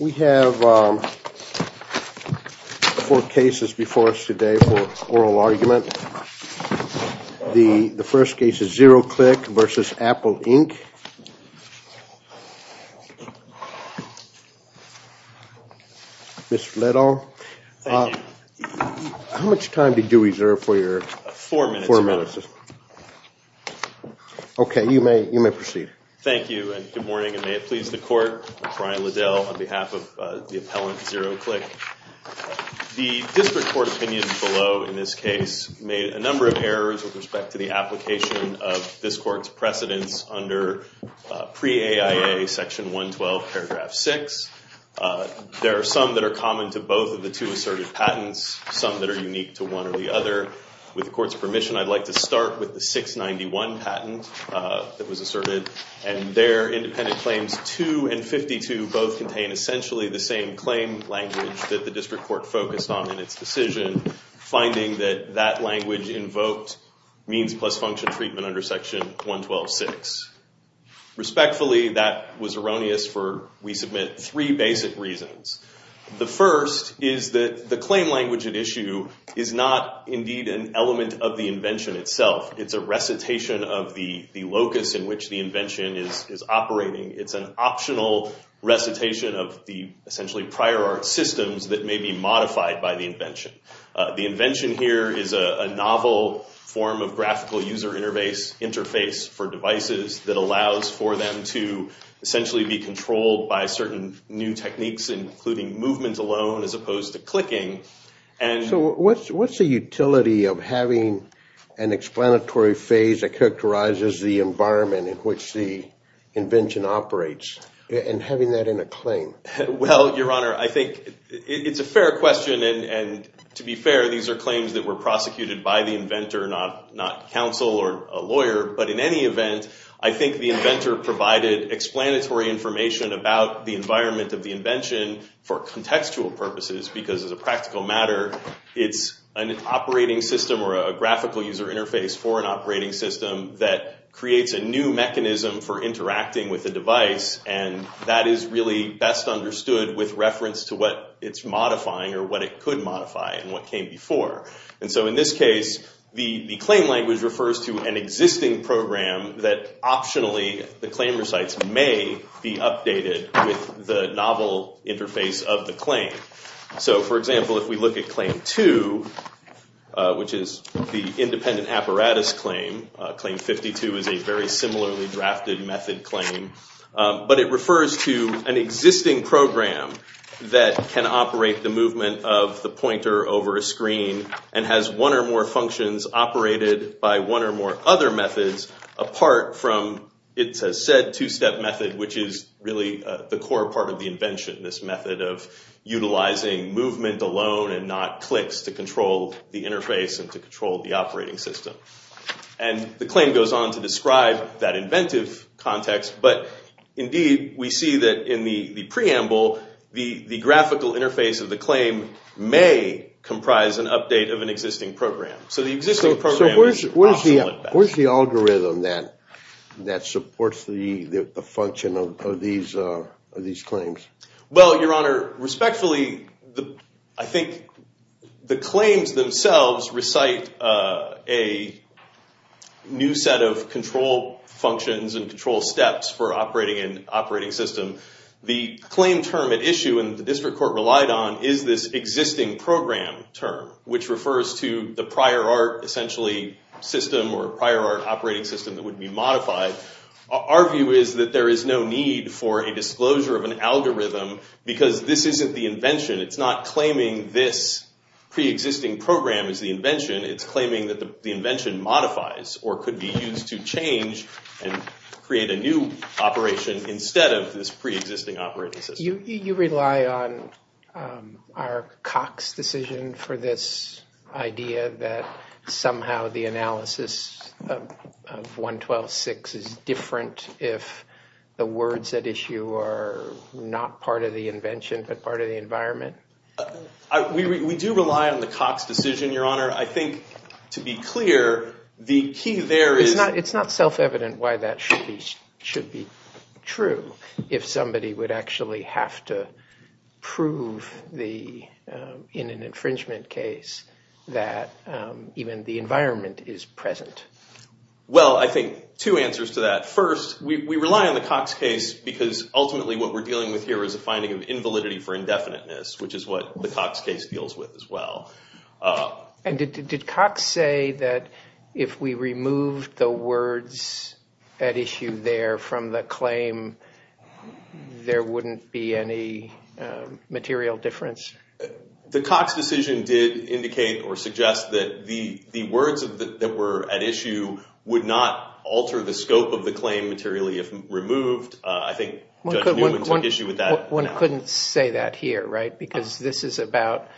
We have four cases before us today for oral argument. The first case is the District Court opinion below in this case made a number of errors with respect to the application of this Court's precedence under Pre-AIA Section 112, paragraph 6. There are some that are common to both of the two asserted patents, some that are unique to one or the other. With the Court's permission, I'd like to start with the 691 patent that was asserted, and their independent claims 2 and 52 both contain essentially the same claim language that the District Court focused on in its decision, finding that that language invoked means plus function treatment under Section 112.6. Respectfully, that was erroneous for, we submit three basic reasons. The first is that the claim language at issue is not indeed an element of the invention itself. It's a recitation of the locus in which the invention is operating. It's an optional recitation of the essentially prior art systems that may be modified by the invention. The invention here is a novel form of graphical user interface for devices that allows for them to essentially be controlled by certain new techniques, including movement alone as opposed to clicking. So what's the utility of having an explanatory phase that characterizes the environment in which the invention operates, and having that in a claim? Well, Your Honor, I think it's a fair question, and to be fair, these are claims that were prior, but in any event, I think the inventor provided explanatory information about the environment of the invention for contextual purposes, because as a practical matter, it's an operating system or a graphical user interface for an operating system that creates a new mechanism for interacting with a device, and that is really best understood with reference to what it's modifying, or what it could modify, and what came before. And so in this case, the claim language refers to an existing program that optionally the claim recites may be updated with the novel interface of the claim. So for example, if we look at Claim 2, which is the independent apparatus claim, Claim 52 is a very similarly drafted method claim, but it refers to an existing program that can operate the movement of the pointer over a screen, and has one or more functions operated by one or more other methods, apart from it's a said two-step method, which is really the core part of the invention, this method of utilizing movement alone and not clicks to control the interface and to control the operating system. And the claim goes on to describe that inventive context, but indeed, we see that in the preamble, the graphical interface of the claim may comprise an update of an existing program. So the existing program is optional at best. So where's the algorithm that supports the function of these claims? Well, Your Honor, respectfully, I think the claims themselves recite a new set of control functions and control steps for operating an operating system. The claim term at issue, and the district court relied on, is this existing program term, which refers to the prior art, essentially, system or prior art operating system that would be modified. Our view is that there is no need for a disclosure of an algorithm, because this isn't the invention. It's not claiming this preexisting program is the invention. It's claiming that the invention modifies, or could be used to change and create a new operation instead of this preexisting operating system. You rely on our Cox decision for this idea that somehow the analysis of 112.6 is different if the words at issue are not part of the invention, but part of the environment? We do rely on the Cox decision, Your Honor. I think, to be clear, the key there is— It's not self-evident why that should be true if somebody would actually have to prove in an infringement case that even the environment is present. Well, I think two answers to that. First, we rely on the Cox case because ultimately what we're dealing with here is a finding of invalidity for indefiniteness, which is what the Cox case deals with as well. Did Cox say that if we removed the words at issue there from the claim, there wouldn't be any material difference? The Cox decision did indicate or suggest that the words that were at issue would not alter the scope of the claim materially if removed. I think Judge Newman took issue with that. One couldn't say that here, right? Because this is about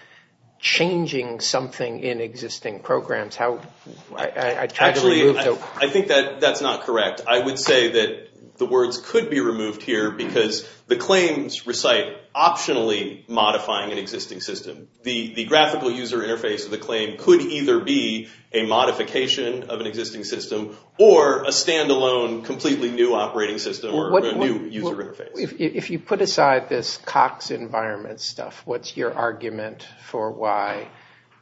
changing something in existing programs. Actually, I think that's not correct. I would say that the words could be removed here because the claims recite optionally modifying an existing system. The graphical user interface of the claim could either be a modification of an existing system or a standalone completely new operating system or a new user interface. If you put aside this Cox environment stuff, what's your argument for why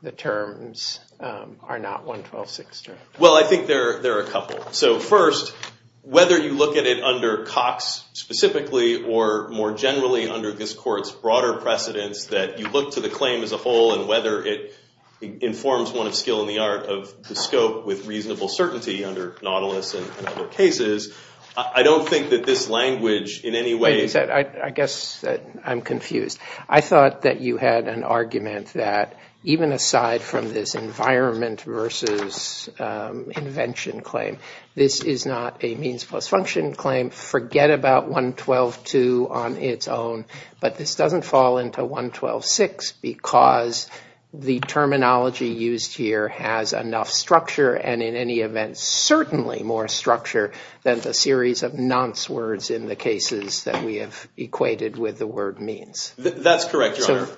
the terms are not 112-6 terms? Well, I think there are a couple. First, whether you look at it under Cox specifically or more generally under this court's broader precedence that you look to the claim as a whole and whether it informs one of skill in the art of the scope with reasonable certainty under Nautilus and other cases, I don't think that this language in any way is... I guess I'm confused. I thought that you had an argument that even aside from this environment versus invention claim, this is not a means plus function claim. Forget about 112-2 on its own, but this doesn't fall into 112-6 because the terminology used here has enough structure and in any event certainly more structure than the series of nonce words in the cases that we have equated with the word means. That's correct, Your Honor.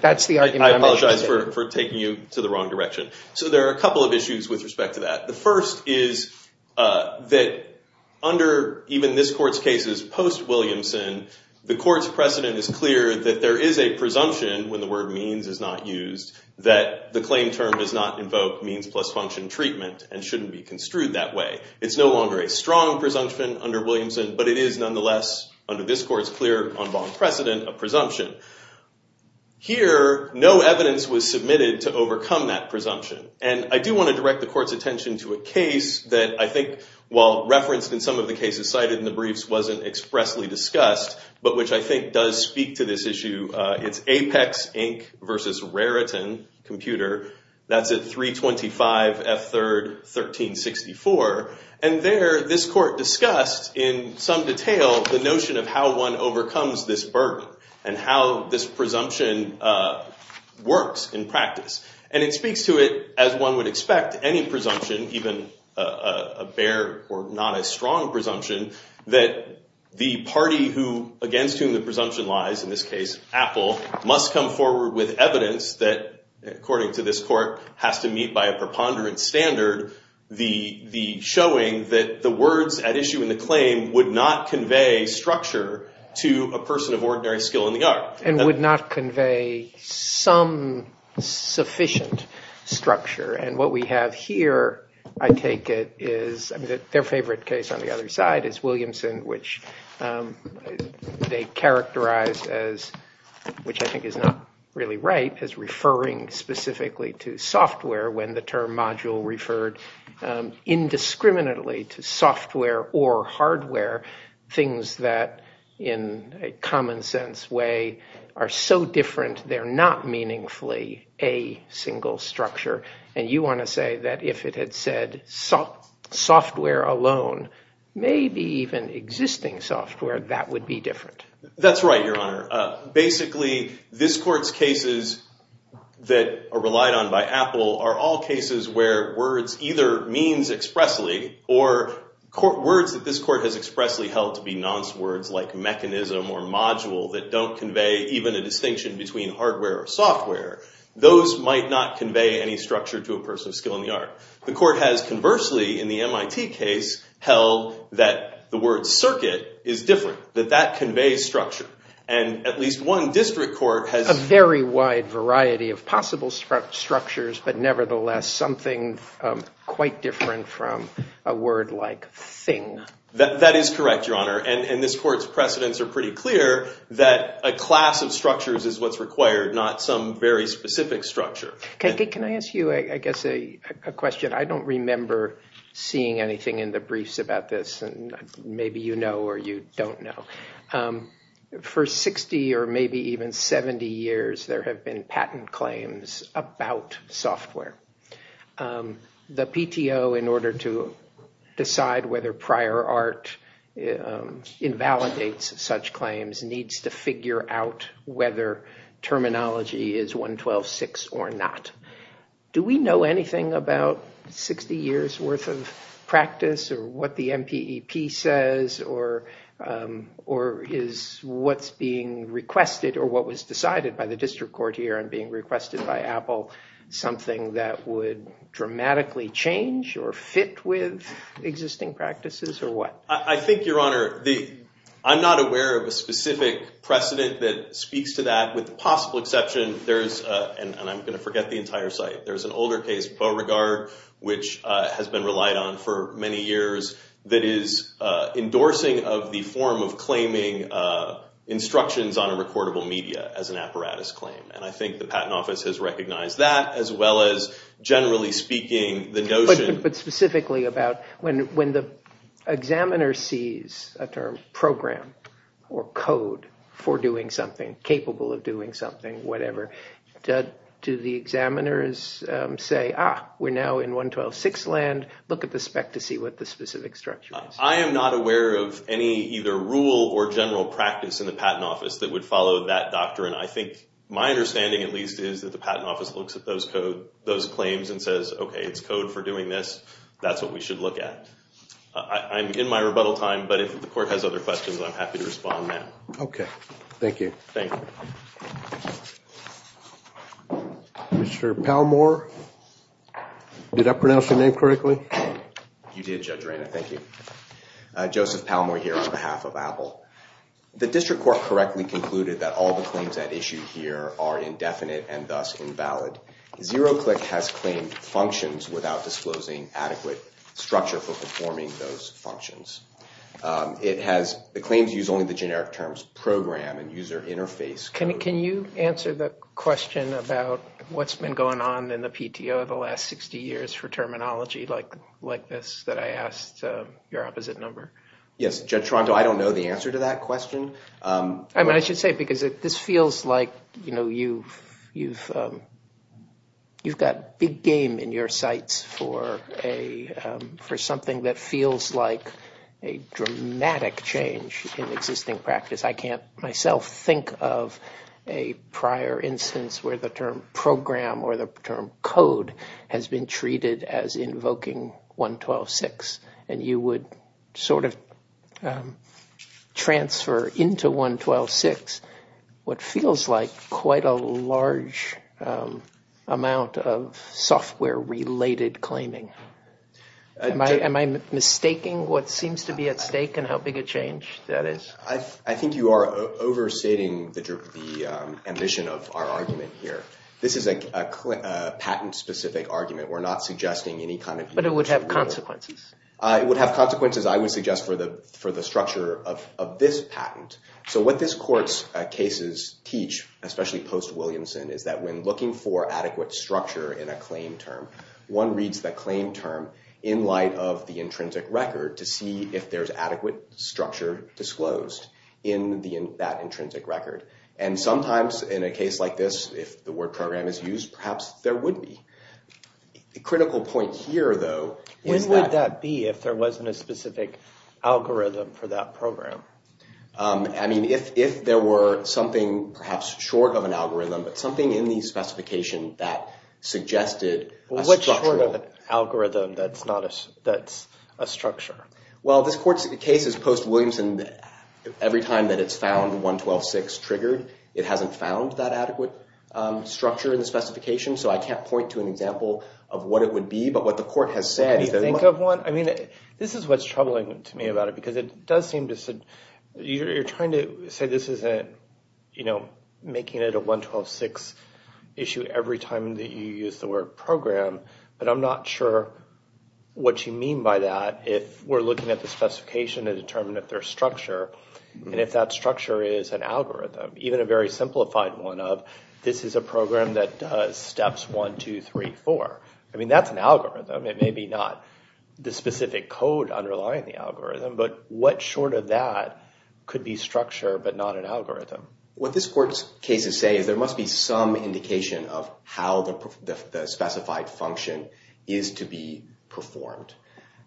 That's the argument I'm making. I apologize for taking you to the wrong direction. So there are a couple of issues with respect to that. The first is that under even this court's cases post-Williamson, the court's precedent is clear that there is a presumption when the word means is not used that the claim term does not invoke means plus function treatment and shouldn't be construed that way. It's no longer a strong presumption under Williamson, but it is nonetheless under this court's clear on bond precedent a presumption. Here, no evidence was submitted to overcome that presumption. And I do want to direct the court's attention to a case that I think while referenced in some of the cases cited in the briefs wasn't expressly discussed, but which I think does speak to this issue. It's Apex Inc. versus Raritan Computer. That's at 325 F3rd 1364. And there, this court discussed in some detail the notion of how one overcomes this burden and how this presumption works in practice. And it speaks to it as one would expect any presumption, even a bare or not as strong presumption, that the party against whom the presumption lies, in this case Apple, must come forward with evidence that, according to this court, has to meet by a preponderant standard the showing that the words at issue in the claim would not convey structure to a person of ordinary skill in the art. And would not convey some sufficient structure. And what we have here, I take it, is their favorite case on the other side is Williamson, which they characterize as, which I think is not really right, as referring specifically to software when the term module referred indiscriminately to software or hardware, things that in a common sense way are so different, they're not meaningfully a single structure. And you want to say that if it had said software alone, maybe even existing software, that would be different. That's right, Your Honor. Basically, this court's cases that are relied on by Apple are all cases where words either means expressly or words that this court has expressly held to be nonce words like mechanism or module that don't convey even a distinction between hardware or software. Those might not convey any structure to a person of skill in the art. The court has conversely in the MIT case held that the word circuit is different, that that conveys structure. And at least one district court has... A very wide variety of possible structures, but nevertheless something quite different from a word like thing. That is correct, Your Honor. And this court's precedents are pretty clear that a class of structures is what's required, not some very specific structure. Can I ask you, I guess, a question? I don't remember seeing anything in the briefs about this, and maybe you know or you don't know. For 60 or maybe even 70 years, there have been patent claims about software. The PTO, in order to decide whether prior art invalidates such claims, needs to figure out whether terminology is 112.6 or not. Do we know anything about 60 years' worth of practice or what the MPEP says or is what's being requested or what was decided by the district court here and being requested by Apple something that would dramatically change or fit with existing practices or what? I think, Your Honor, I'm not aware of a specific precedent that speaks to that with the possible exception, and I'm going to forget the entire site, there's an older case, Beauregard, which has been relied on for many years that is endorsing of the form of claiming instructions on a recordable media as an apparatus claim. And I think the Patent Office has recognized that as well as generally speaking the notion... If the examiner sees a term program or code for doing something, capable of doing something, whatever, do the examiners say, ah, we're now in 112.6 land, look at the spec to see what the specific structure is? I am not aware of any either rule or general practice in the Patent Office that would follow that doctrine. I think my understanding at least is that the Patent Office looks at those claims and says, okay, it's code for doing this, that's what we should look at. I'm in my rebuttal time, but if the court has other questions, I'm happy to respond now. Okay, thank you. Thank you. Mr. Palmore, did I pronounce your name correctly? You did, Judge Rayner, thank you. Joseph Palmore here on behalf of Apple. The District Court correctly concluded that all the claims at issue here are indefinite and thus invalid. ZeroClick has claimed functions without disclosing adequate structure for performing those functions. It claims to use only the generic terms program and user interface. Can you answer the question about what's been going on in the PTO the last 60 years for terminology like this that I asked your opposite number? Yes, Judge Toronto, I don't know the answer to that question. I mean, I should say because this feels like, you know, you've got big game in your sights for something that feels like a dramatic change in existing practice. I can't myself think of a prior instance where the term program or the term code has been treated as invoking 112.6 and you would sort of transfer into 112.6 what feels like quite a large amount of software-related claiming. Am I mistaking what seems to be at stake and how big a change that is? I think you are overstating the ambition of our argument here. This is a patent-specific argument. We're not suggesting any kind of... But it would have consequences. It would have consequences, I would suggest, for the structure of this patent. So what this court's cases teach, especially post-Williamson, is that when looking for adequate structure in a claim term, one reads the claim term in light of the intrinsic record to see if there's adequate structure disclosed in that intrinsic record. And sometimes in a case like this, if the word program is used, perhaps there would be. The critical point here, though... When would that be if there wasn't a specific algorithm for that program? I mean, if there were something perhaps short of an algorithm, but something in the specification that suggested a structural... Well, what's short of an algorithm that's not a... that's a structure? Well, this court's case is post-Williamson. Every time that it's found 112.6 triggered, it hasn't found that adequate structure in the specification, so I can't point to an example of what it would be. But what the court has said... Can you think of one? I mean, this is what's troubling to me about it, because it does seem to... You're trying to say this isn't, you know, making it a 112.6 issue every time that you use the word program, but I'm not sure what you mean by that if we're looking at the specification to determine if there's structure, and if that structure is an algorithm. Even a very simplified one of, this is a program that does steps 1, 2, 3, 4. I mean, that's an algorithm. It may be not the specific code underlying the algorithm, but what short of that could be structure but not an algorithm? What this court's cases say is there must be some indication of how the specified function is to be performed.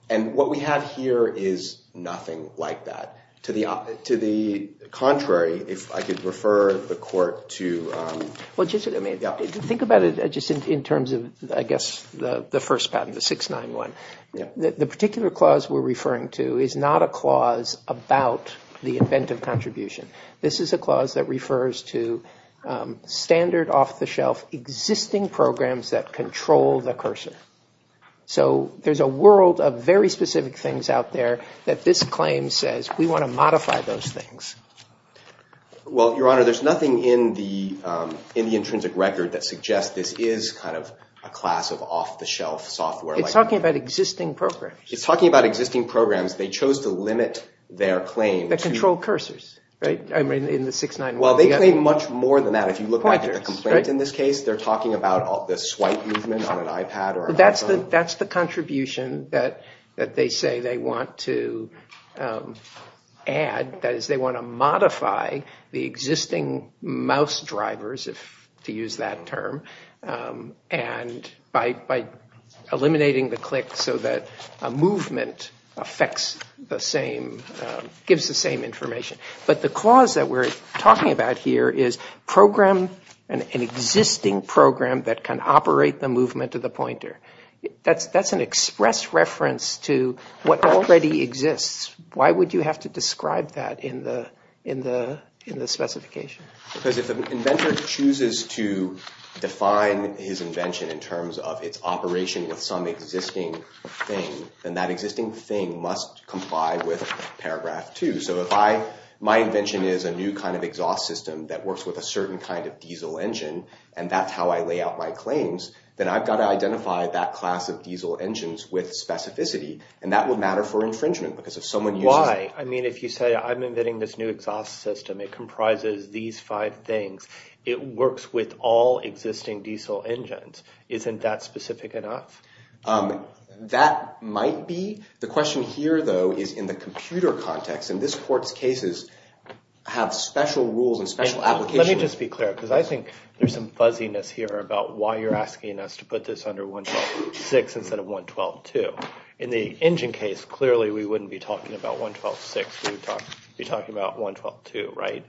And what we have here is nothing like that. To the contrary, if I could refer the court to... Well, just think about it just in terms of, I guess, the first patent, the 691. The particular clause we're referring to is not a clause about the inventive contribution. This is a clause that refers to standard off-the-shelf existing programs that control the cursor. So there's a world of very specific things out there that this claim says we want to modify those things. Well, Your Honor, there's nothing in the intrinsic record that suggests this is kind of a class of off-the-shelf software. It's talking about existing programs. It's talking about existing programs. They chose to limit their claim... The control cursors, right, in the 691. Well, they claim much more than that. If you look at the complaint in this case, they're talking about the swipe movement on an iPad or an iPhone. That's the contribution that they say they want to add. That is, they want to modify the existing mouse drivers, to use that term, and by eliminating the click so that a movement affects the same... gives the same information. But the clause that we're talking about here is program... an existing program that can operate the movement of the pointer. That's an express reference to what already exists. Why would you have to describe that in the specification? Because if an inventor chooses to define his invention in terms of its operation with some existing thing, then that existing thing must comply with paragraph 2. So if my invention is a new kind of exhaust system that works with a certain kind of diesel engine, and that's how I lay out my claims, then I've got to identify that class of diesel engines with specificity, and that would matter for infringement, because if someone uses... Why? I mean, if you say, I'm inventing this new exhaust system. It comprises these five things. It works with all existing diesel engines. Isn't that specific enough? That might be. The question here, though, is in the computer context. In this court's cases, have special rules and special applications... Let me just be clear, because I think there's some fuzziness here about why you're asking us to put this under 112.6 instead of 112.2. In the engine case, clearly, we wouldn't be talking about 112.6. We'd be talking about 112.2, right?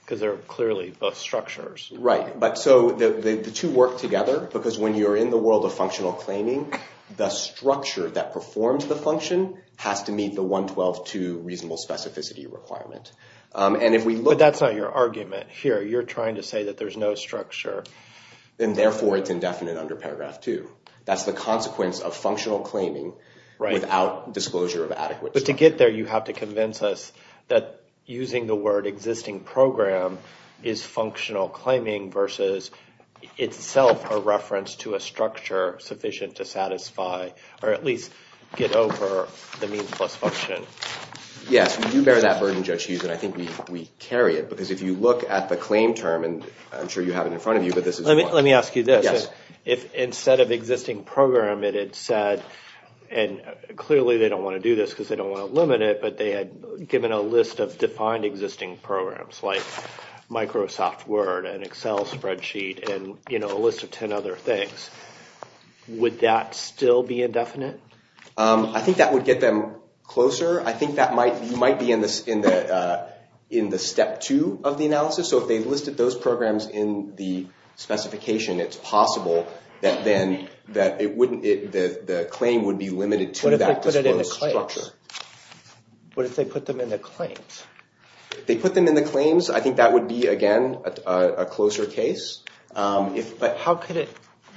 Because they're clearly both structures. Right, but so the two work together because when you're in the world of functional claiming, the structure that performs the function has to meet the 112.2 reasonable specificity requirement. But that's not your argument here. You're trying to say that there's no structure, and therefore it's indefinite under paragraph 2. That's the consequence of functional claiming without disclosure of adequacy. But to get there, you have to convince us that using the word existing program is functional claiming versus itself a reference to a structure sufficient to satisfy or at least get over the means plus function. Yes, we do bear that burden, Judge Hughes, and I think we carry it. Because if you look at the claim term, and I'm sure you have it in front of you, but this is one. Let me ask you this. If instead of existing program, it had said, and clearly they don't want to do this because they don't want to limit it, but they had given a list of defined existing programs like Microsoft Word and Excel spreadsheet and a list of 10 other things, would that still be indefinite? I think that would get them closer. I think that might be in the step two of the analysis. So if they listed those programs in the specification, it's possible that the claim would be limited to that disclosed structure. What if they put them in the claims? If they put them in the claims, I think that would be, again, a closer case. How could it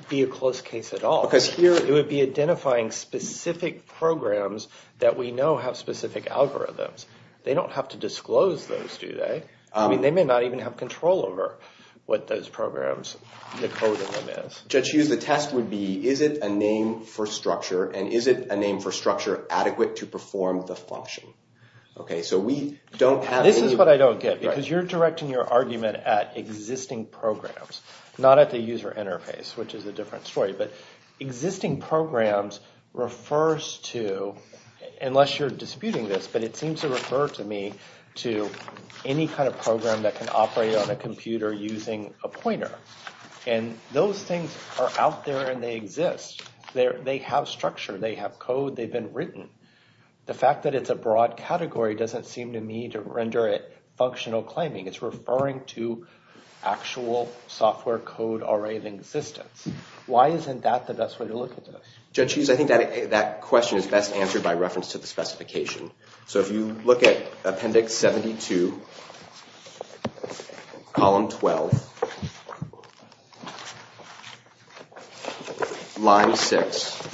be a close case at all? Because here it would be identifying specific programs that we know have specific algorithms. They don't have to disclose those, do they? They may not even have control over what those programs, the code in them is. Judge Hughes, the test would be, is it a name for structure and is it a name for structure adequate to perform the function? This is what I don't get because you're directing your argument at existing programs, not at the user interface, which is a different story. Existing programs refers to, unless you're disputing this, but it seems to refer to me to any kind of program that can operate on a computer using a pointer. Those things are out there and they exist. They have structure, they have code, they've been written. The fact that it's a broad category doesn't seem to me to render it a software code already in existence. Why isn't that the best way to look at this? Judge Hughes, I think that question is best answered by reference to the specification. So if you look at Appendix 72, Column 12, Line 6,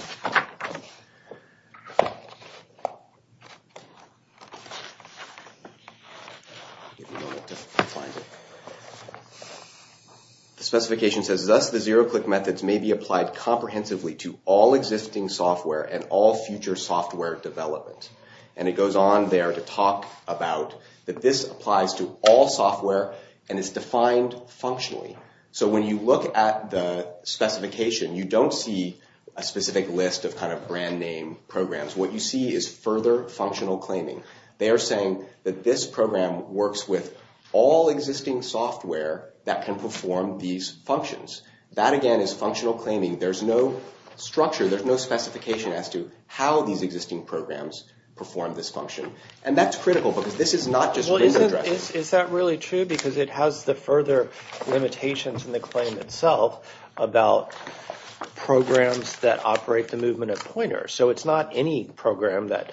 the specification says, Thus the zero-click methods may be applied comprehensively to all existing software and all future software development. And it goes on there to talk about that this applies to all software and is defined functionally. So when you look at the specification, you don't see a specific list of brand name programs. What you see is further functional claiming. They are saying that this program works with all existing software that can perform these functions. That again is functional claiming. There's no structure, there's no specification as to how these existing programs perform this function. And that's critical because this is not just written address. Is that really true? Because it has the further limitations in the claim itself about programs that operate the movement of pointers. So it's not any program that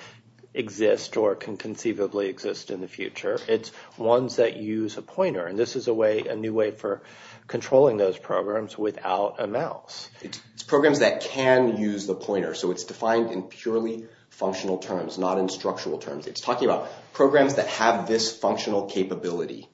exists or can conceivably exist in the future. It's ones that use a pointer and this is a new way for controlling those programs without a mouse. It's programs that can use the pointer. So it's defined in purely functional terms, not in structural terms. It's talking about programs that have this functional capability.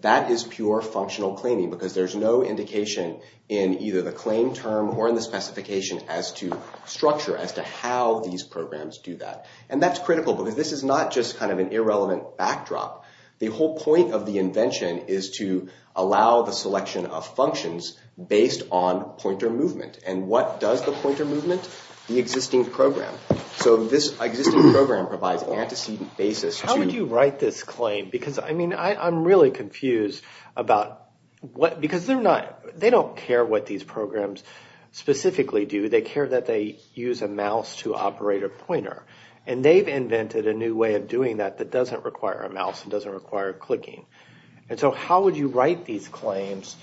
That is pure functional claiming because there's no indication in either the claim term or in the specification as to structure as to how these programs do that. And that's critical because this is not just kind of an irrelevant backdrop. The whole point of the invention is to allow the selection of functions based on pointer movement. And what does the pointer movement? The existing program. So this existing program provides antecedent basis to... How would you write this claim? Because I mean I'm really confused about what, because they're not, they don't care what these programs specifically do. They care that they use a mouse to operate a pointer. And they've invented a new way of doing that that doesn't require a mouse and doesn't require clicking. And so how would you write these claims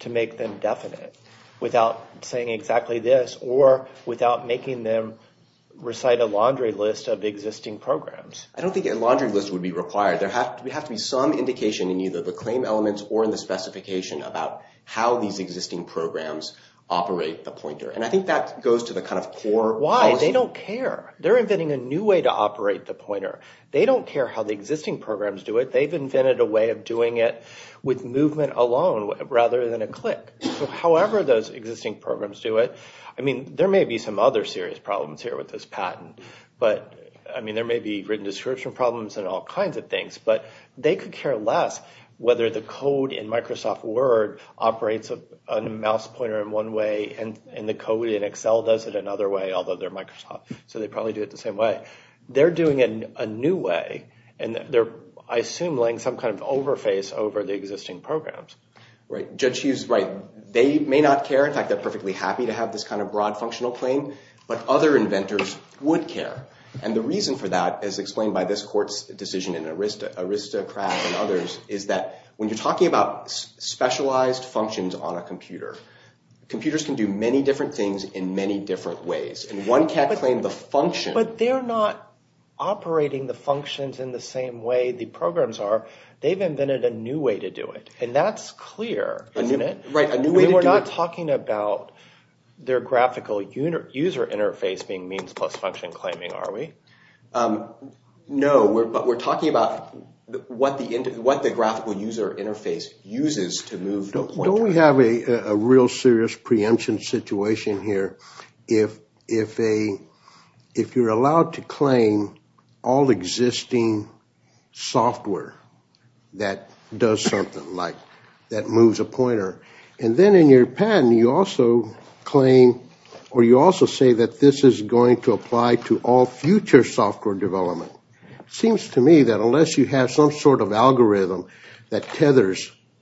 to make them definite without saying exactly this or without making them recite a laundry list of existing programs? I don't think a laundry list would be required. There would have to be some indication in either the claim elements or in the specification about how these existing programs operate the pointer. And I think that goes to the kind of Why? They don't care. They're inventing a new way to operate the pointer. They don't care how the existing programs do it. They've invented a way of doing it with movement alone rather than a click. So however those existing programs do it, I mean there may be some other serious problems here with this patent, but I mean there may be written description problems and all kinds of things, but they could care less whether the code in Microsoft Word operates on a mouse pointer in one way and the code in Excel does it another way, although they're Microsoft, so they probably do it the same way. They're doing it a new way, and they're I assume laying some kind of overface over the existing programs. Judge Hughes, right, they may not care. In fact, they're perfectly happy to have this kind of broad functional claim, but other inventors would care. And the reason for that is explained by this court's decision in Arista, Arista, Kraft and others, is that when you're talking about specialized functions on a computer, computers can do many different things in many different ways and one can't claim the function. But they're not operating the functions in the same way the programs are. They've invented a new way to do it, and that's clear isn't it? Right, a new way to do it. We're not talking about their graphical user interface being means plus function claiming, are we? No, but we're talking about what the graphical user interface uses to move the pointer. Don't we have a real serious preemption situation here? If a if you're allowed to claim all existing software that does something like that moves a pointer, and then in your patent you also claim or you also say that this is going to apply to all future software development. It seems to me that unless you have some sort of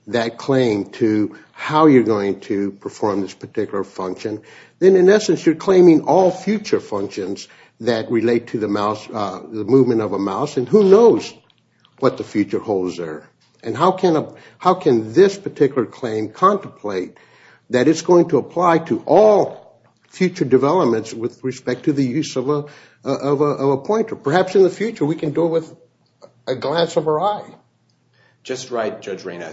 that claim to how you're going to perform this particular function, then in essence you're claiming all future functions that relate to the movement of a mouse, and who knows what the future holds there? How can this particular claim contemplate that it's going to apply to all future developments with respect to the use of a pointer? Perhaps in the future we can do it with a glance of our eye. Just right, Judge Reyna.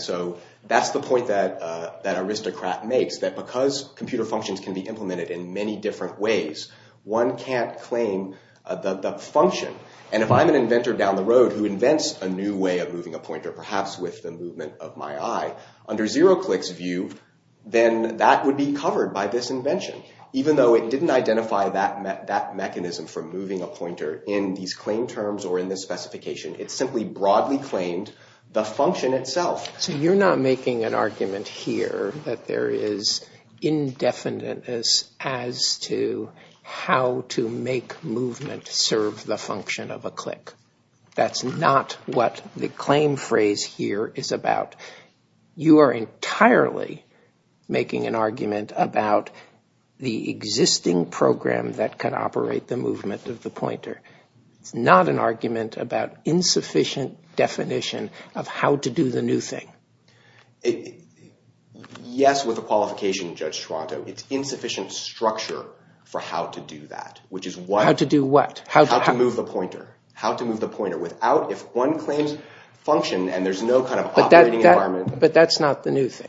That's the point that aristocrat makes, that because computer functions can be implemented in many different ways, one can't claim the function. And if I'm an inventor down the road who invents a new way of moving a pointer, perhaps with the movement of my eye, under ZeroClick's view, then that would be covered by this invention. Even though it didn't identify that mechanism for moving a pointer in these claim terms or in this claim, it claimed the function itself. So you're not making an argument here that there is indefiniteness as to how to make movement serve the function of a click. That's not what the claim phrase here is about. You are entirely making an argument about the existing program that can operate the movement of the pointer. It's not an argument about an insufficient definition of how to do the new thing. Yes, with a qualification, Judge Toronto. It's insufficient structure for how to do that. How to do what? How to move the pointer. If one claims function and there's no operating environment... But that's not the new thing.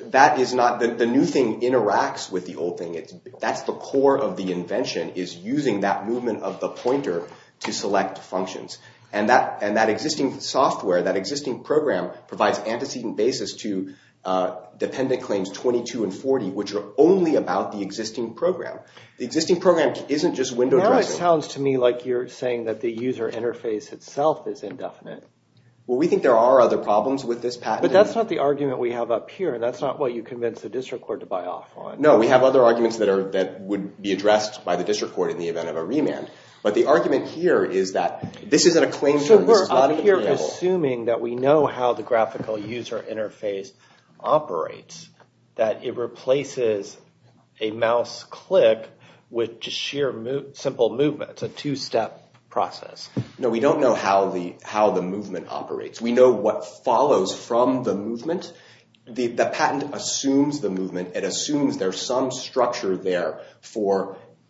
The new thing interacts with the old thing. That's the core of the invention, is using that movement of the pointer to select functions. And that existing software, that existing program, provides antecedent basis to dependent claims 22 and 40 which are only about the existing program. The existing program isn't just window dressing. Now it sounds to me like you're saying that the user interface itself is indefinite. Well, we think there are other problems with this patent. But that's not the argument we have up here. That's not what you convinced the district court to buy off on. No, we have other arguments that would be addressed by the district court in the event of a remand. But the argument here is that this isn't a claim... So we're up here assuming that we know how the graphical user interface operates. That it replaces a mouse click with just sheer simple movement. It's a two-step process. No, we don't know how the movement operates. We know what follows from the movement. The patent assumes the movement. It assumes there's some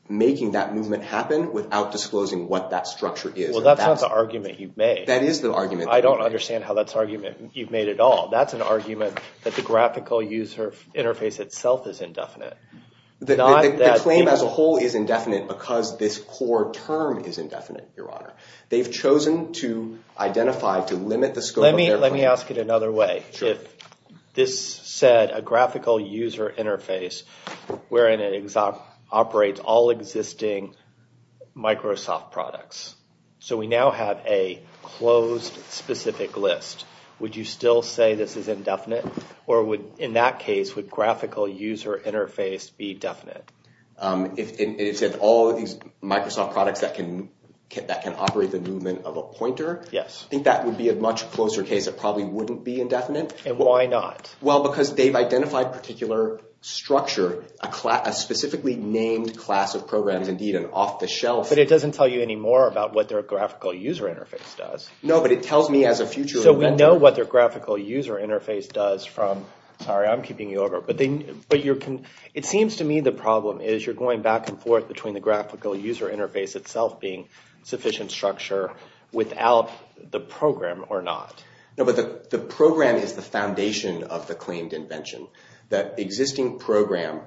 making that movement happen without disclosing what that structure is. Well, that's not the argument you've made. That is the argument. I don't understand how that's an argument you've made at all. That's an argument that the graphical user interface itself is indefinite. The claim as a whole is indefinite because this core term is indefinite, Your Honor. They've chosen to identify, to limit the scope of their claim. Let me ask it another way. If this said a graphical user interface wherein it operates all existing Microsoft products. So we now have a closed specific list. Would you still say this is indefinite? Or in that case, would graphical user interface be definite? If it said all of these Microsoft products that can operate the movement of a pointer? Yes. I think that would be a much closer case. It probably wouldn't be indefinite. And why not? Well, because they've structured a specifically named class of programs indeed an off the shelf. But it doesn't tell you anymore about what their graphical user interface does. No, but it tells me as a future inventor. So we know what their graphical user interface does from, sorry I'm keeping you over, but it seems to me the problem is you're going back and forth between the graphical user interface itself being sufficient structure without the program or not. The program is the foundation of the claimed invention. The existing program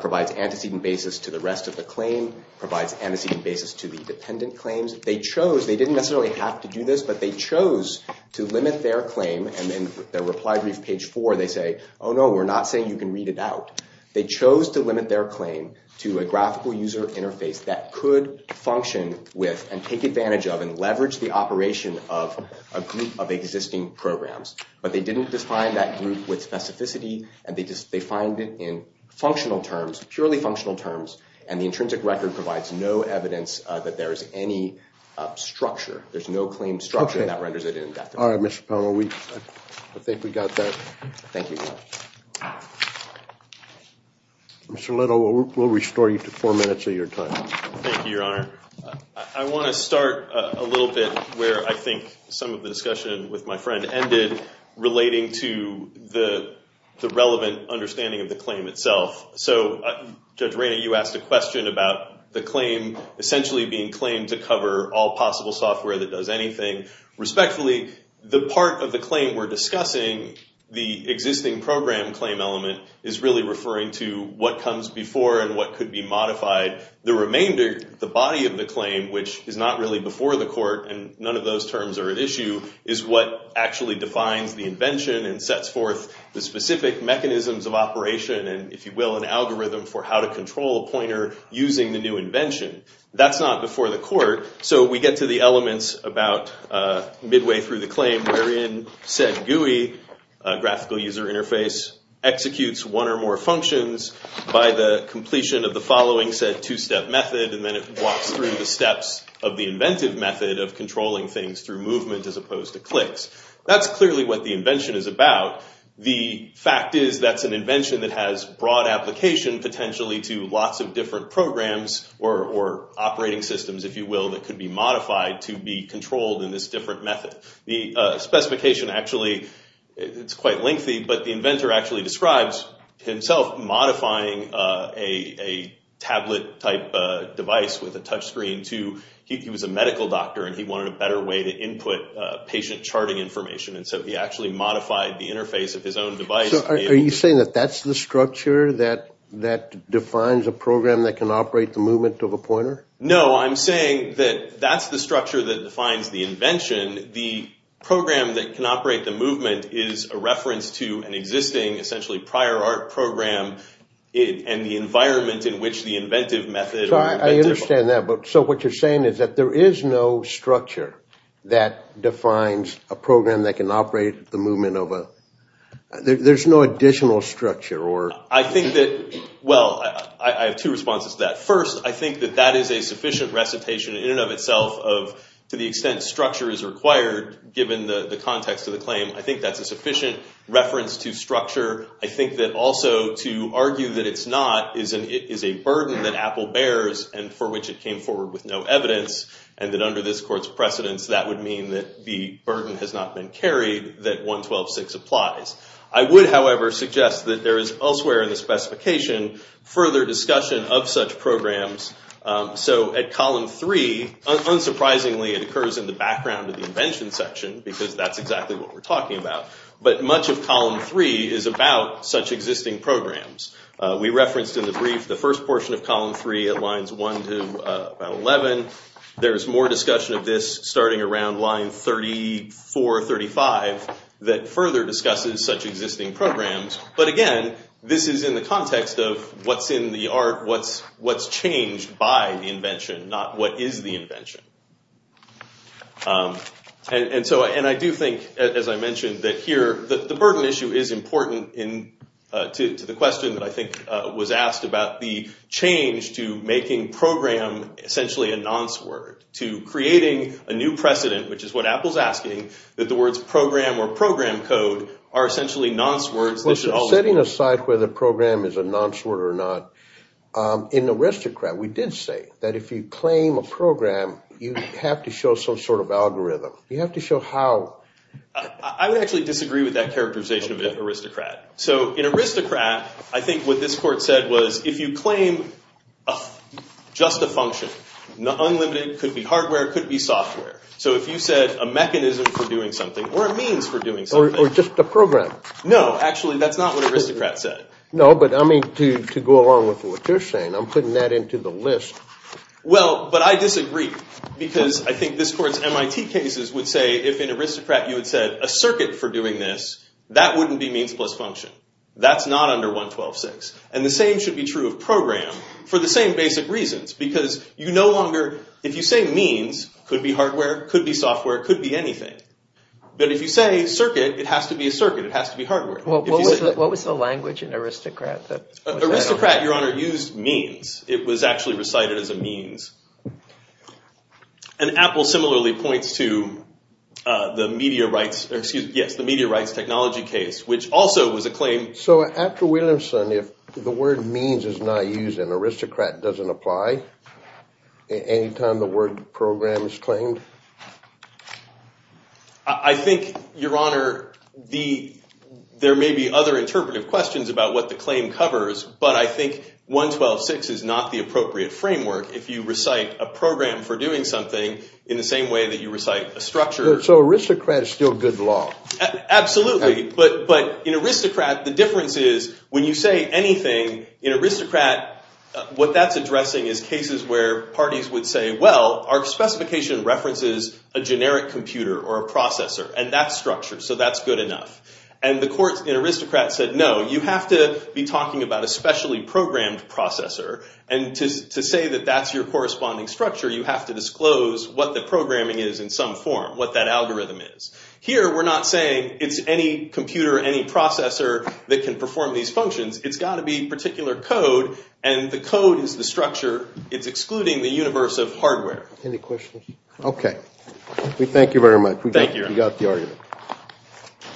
provides antecedent basis to the rest of the claim, provides antecedent basis to the dependent claims. They chose, they didn't necessarily have to do this, but they chose to limit their claim and in their reply brief page four they say, oh no, we're not saying you can read it out. They chose to limit their claim to a graphical user interface that could function with and take advantage of and leverage the operation of a group of existing programs. But they didn't define that group with specificity and they defined it in functional terms, purely functional terms, and the intrinsic record provides no evidence that there is any structure. There's no claimed structure and that renders it indefinite. All right, Mr. Powell, I think we got that. Thank you. Mr. Little, we'll restore you to four minutes of your time. Thank you, Your Honor. I want to start a little bit where I think some of the discussion with my friend ended relating to the relevant understanding of the claim itself. So, Judge Rayna, you asked a question about the claim essentially being claimed to cover all possible software that does anything. Respectfully, the part of the claim we're discussing, the existing program claim element is really referring to what comes before and what could be modified. The remainder, the body of the claim, which is not really before the court and none of those terms are at issue, is what actually defines the invention and sets forth the specific mechanisms of operation and if you will, an algorithm for how to control a pointer using the new invention. That's not before the court, so we get to the elements about midway through the claim wherein said GUI, graphical user interface, executes one or more functions by the completion of the following said two-step method and then it walks through the controlling things through movement as opposed to clicks. That's clearly what the invention is about. The fact is that's an invention that has broad application potentially to lots of different programs or operating systems, if you will, that could be modified to be controlled in this different method. The specification actually, it's quite lengthy but the inventor actually describes himself modifying a tablet type device with a touch screen to he was a medical doctor and he wanted a better way to input patient charting information and so he actually modified the interface of his own device. Are you saying that that's the structure that defines a program that can operate the movement of a pointer? No, I'm saying that that's the structure that defines the invention the program that can operate the movement is a reference to an existing essentially prior art program and the environment in which the inventive method I understand that, but so what you're saying is that there is no structure that defines a program that can operate the movement of a... there's no additional structure or... I think that well, I have two responses to that. First, I think that that is a sufficient recitation in and of itself of to the extent structure is required given the context of the claim I think that's a sufficient reference to structure. I think that also to argue that it's not is a burden that Apple bears and for which it came forward with no evidence and that under this court's precedence that would mean that the burden has not been carried that 1.12.6 applies. I would however suggest that there is elsewhere in the specification further discussion of such programs so at column 3 unsurprisingly it occurs in the background of the invention section because that's exactly what we're talking about, but much of column 3 is about such existing programs. We referenced in the brief the first portion of column 3 at lines 1 to 11 there's more discussion of this starting around line 34 35 that further discusses such existing programs but again this is in the context of what's in the art what's changed by the invention not what is the invention and so I do think as I mentioned that here the burden issue is important to the question that I think was asked about the change to making program essentially a nonce word to creating a new precedent which is what Apple's asking that the words program or program code are essentially nonce words setting aside whether program is a nonce word or not in Aristocrat we did say that if you claim a program you have to show some sort of algorithm you have to show how I would actually disagree with that characterization of Aristocrat so in Aristocrat I think what this court said was if you claim just a function unlimited could be hardware could be software so if you said a mechanism for doing something or a means for doing something or just a program no actually that's not what Aristocrat said no but I mean to go along with what you're saying I'm putting that into the list well but I disagree because I think this court's MIT cases would say if in Aristocrat you would say a circuit for doing this that wouldn't be means plus function that's not under 112.6 and the same should be true of program for the same basic reasons because you no longer if you say means could be hardware could be software could be anything but if you say circuit it has to be a circuit it has to be hardware what was the language in Aristocrat Aristocrat your honor used means it was actually recited as a means and Apple similarly points to the media rights technology case which also was a claim so after Williamson if the word means is not used and Aristocrat doesn't apply any time the word program is claimed I think your honor there may be other interpretive questions about what the claim covers but I think 112.6 is not the appropriate framework if you recite a program for doing something in the same way that you recite a structure so Aristocrat is still good law absolutely but in Aristocrat the difference is when you say anything in Aristocrat what that's addressing is cases where parties would say well our specification references a generic computer or a processor and that's structure so that's good enough and the court in Aristocrat said no you have to be talking about a specially programmed processor and to say that that's your corresponding structure you have to disclose what the programming is in some form what that algorithm is here we're not saying it's any computer any processor that can perform these functions it's gotta be particular code and the code is the structure it's excluding the universe of hardware any questions? we thank you very much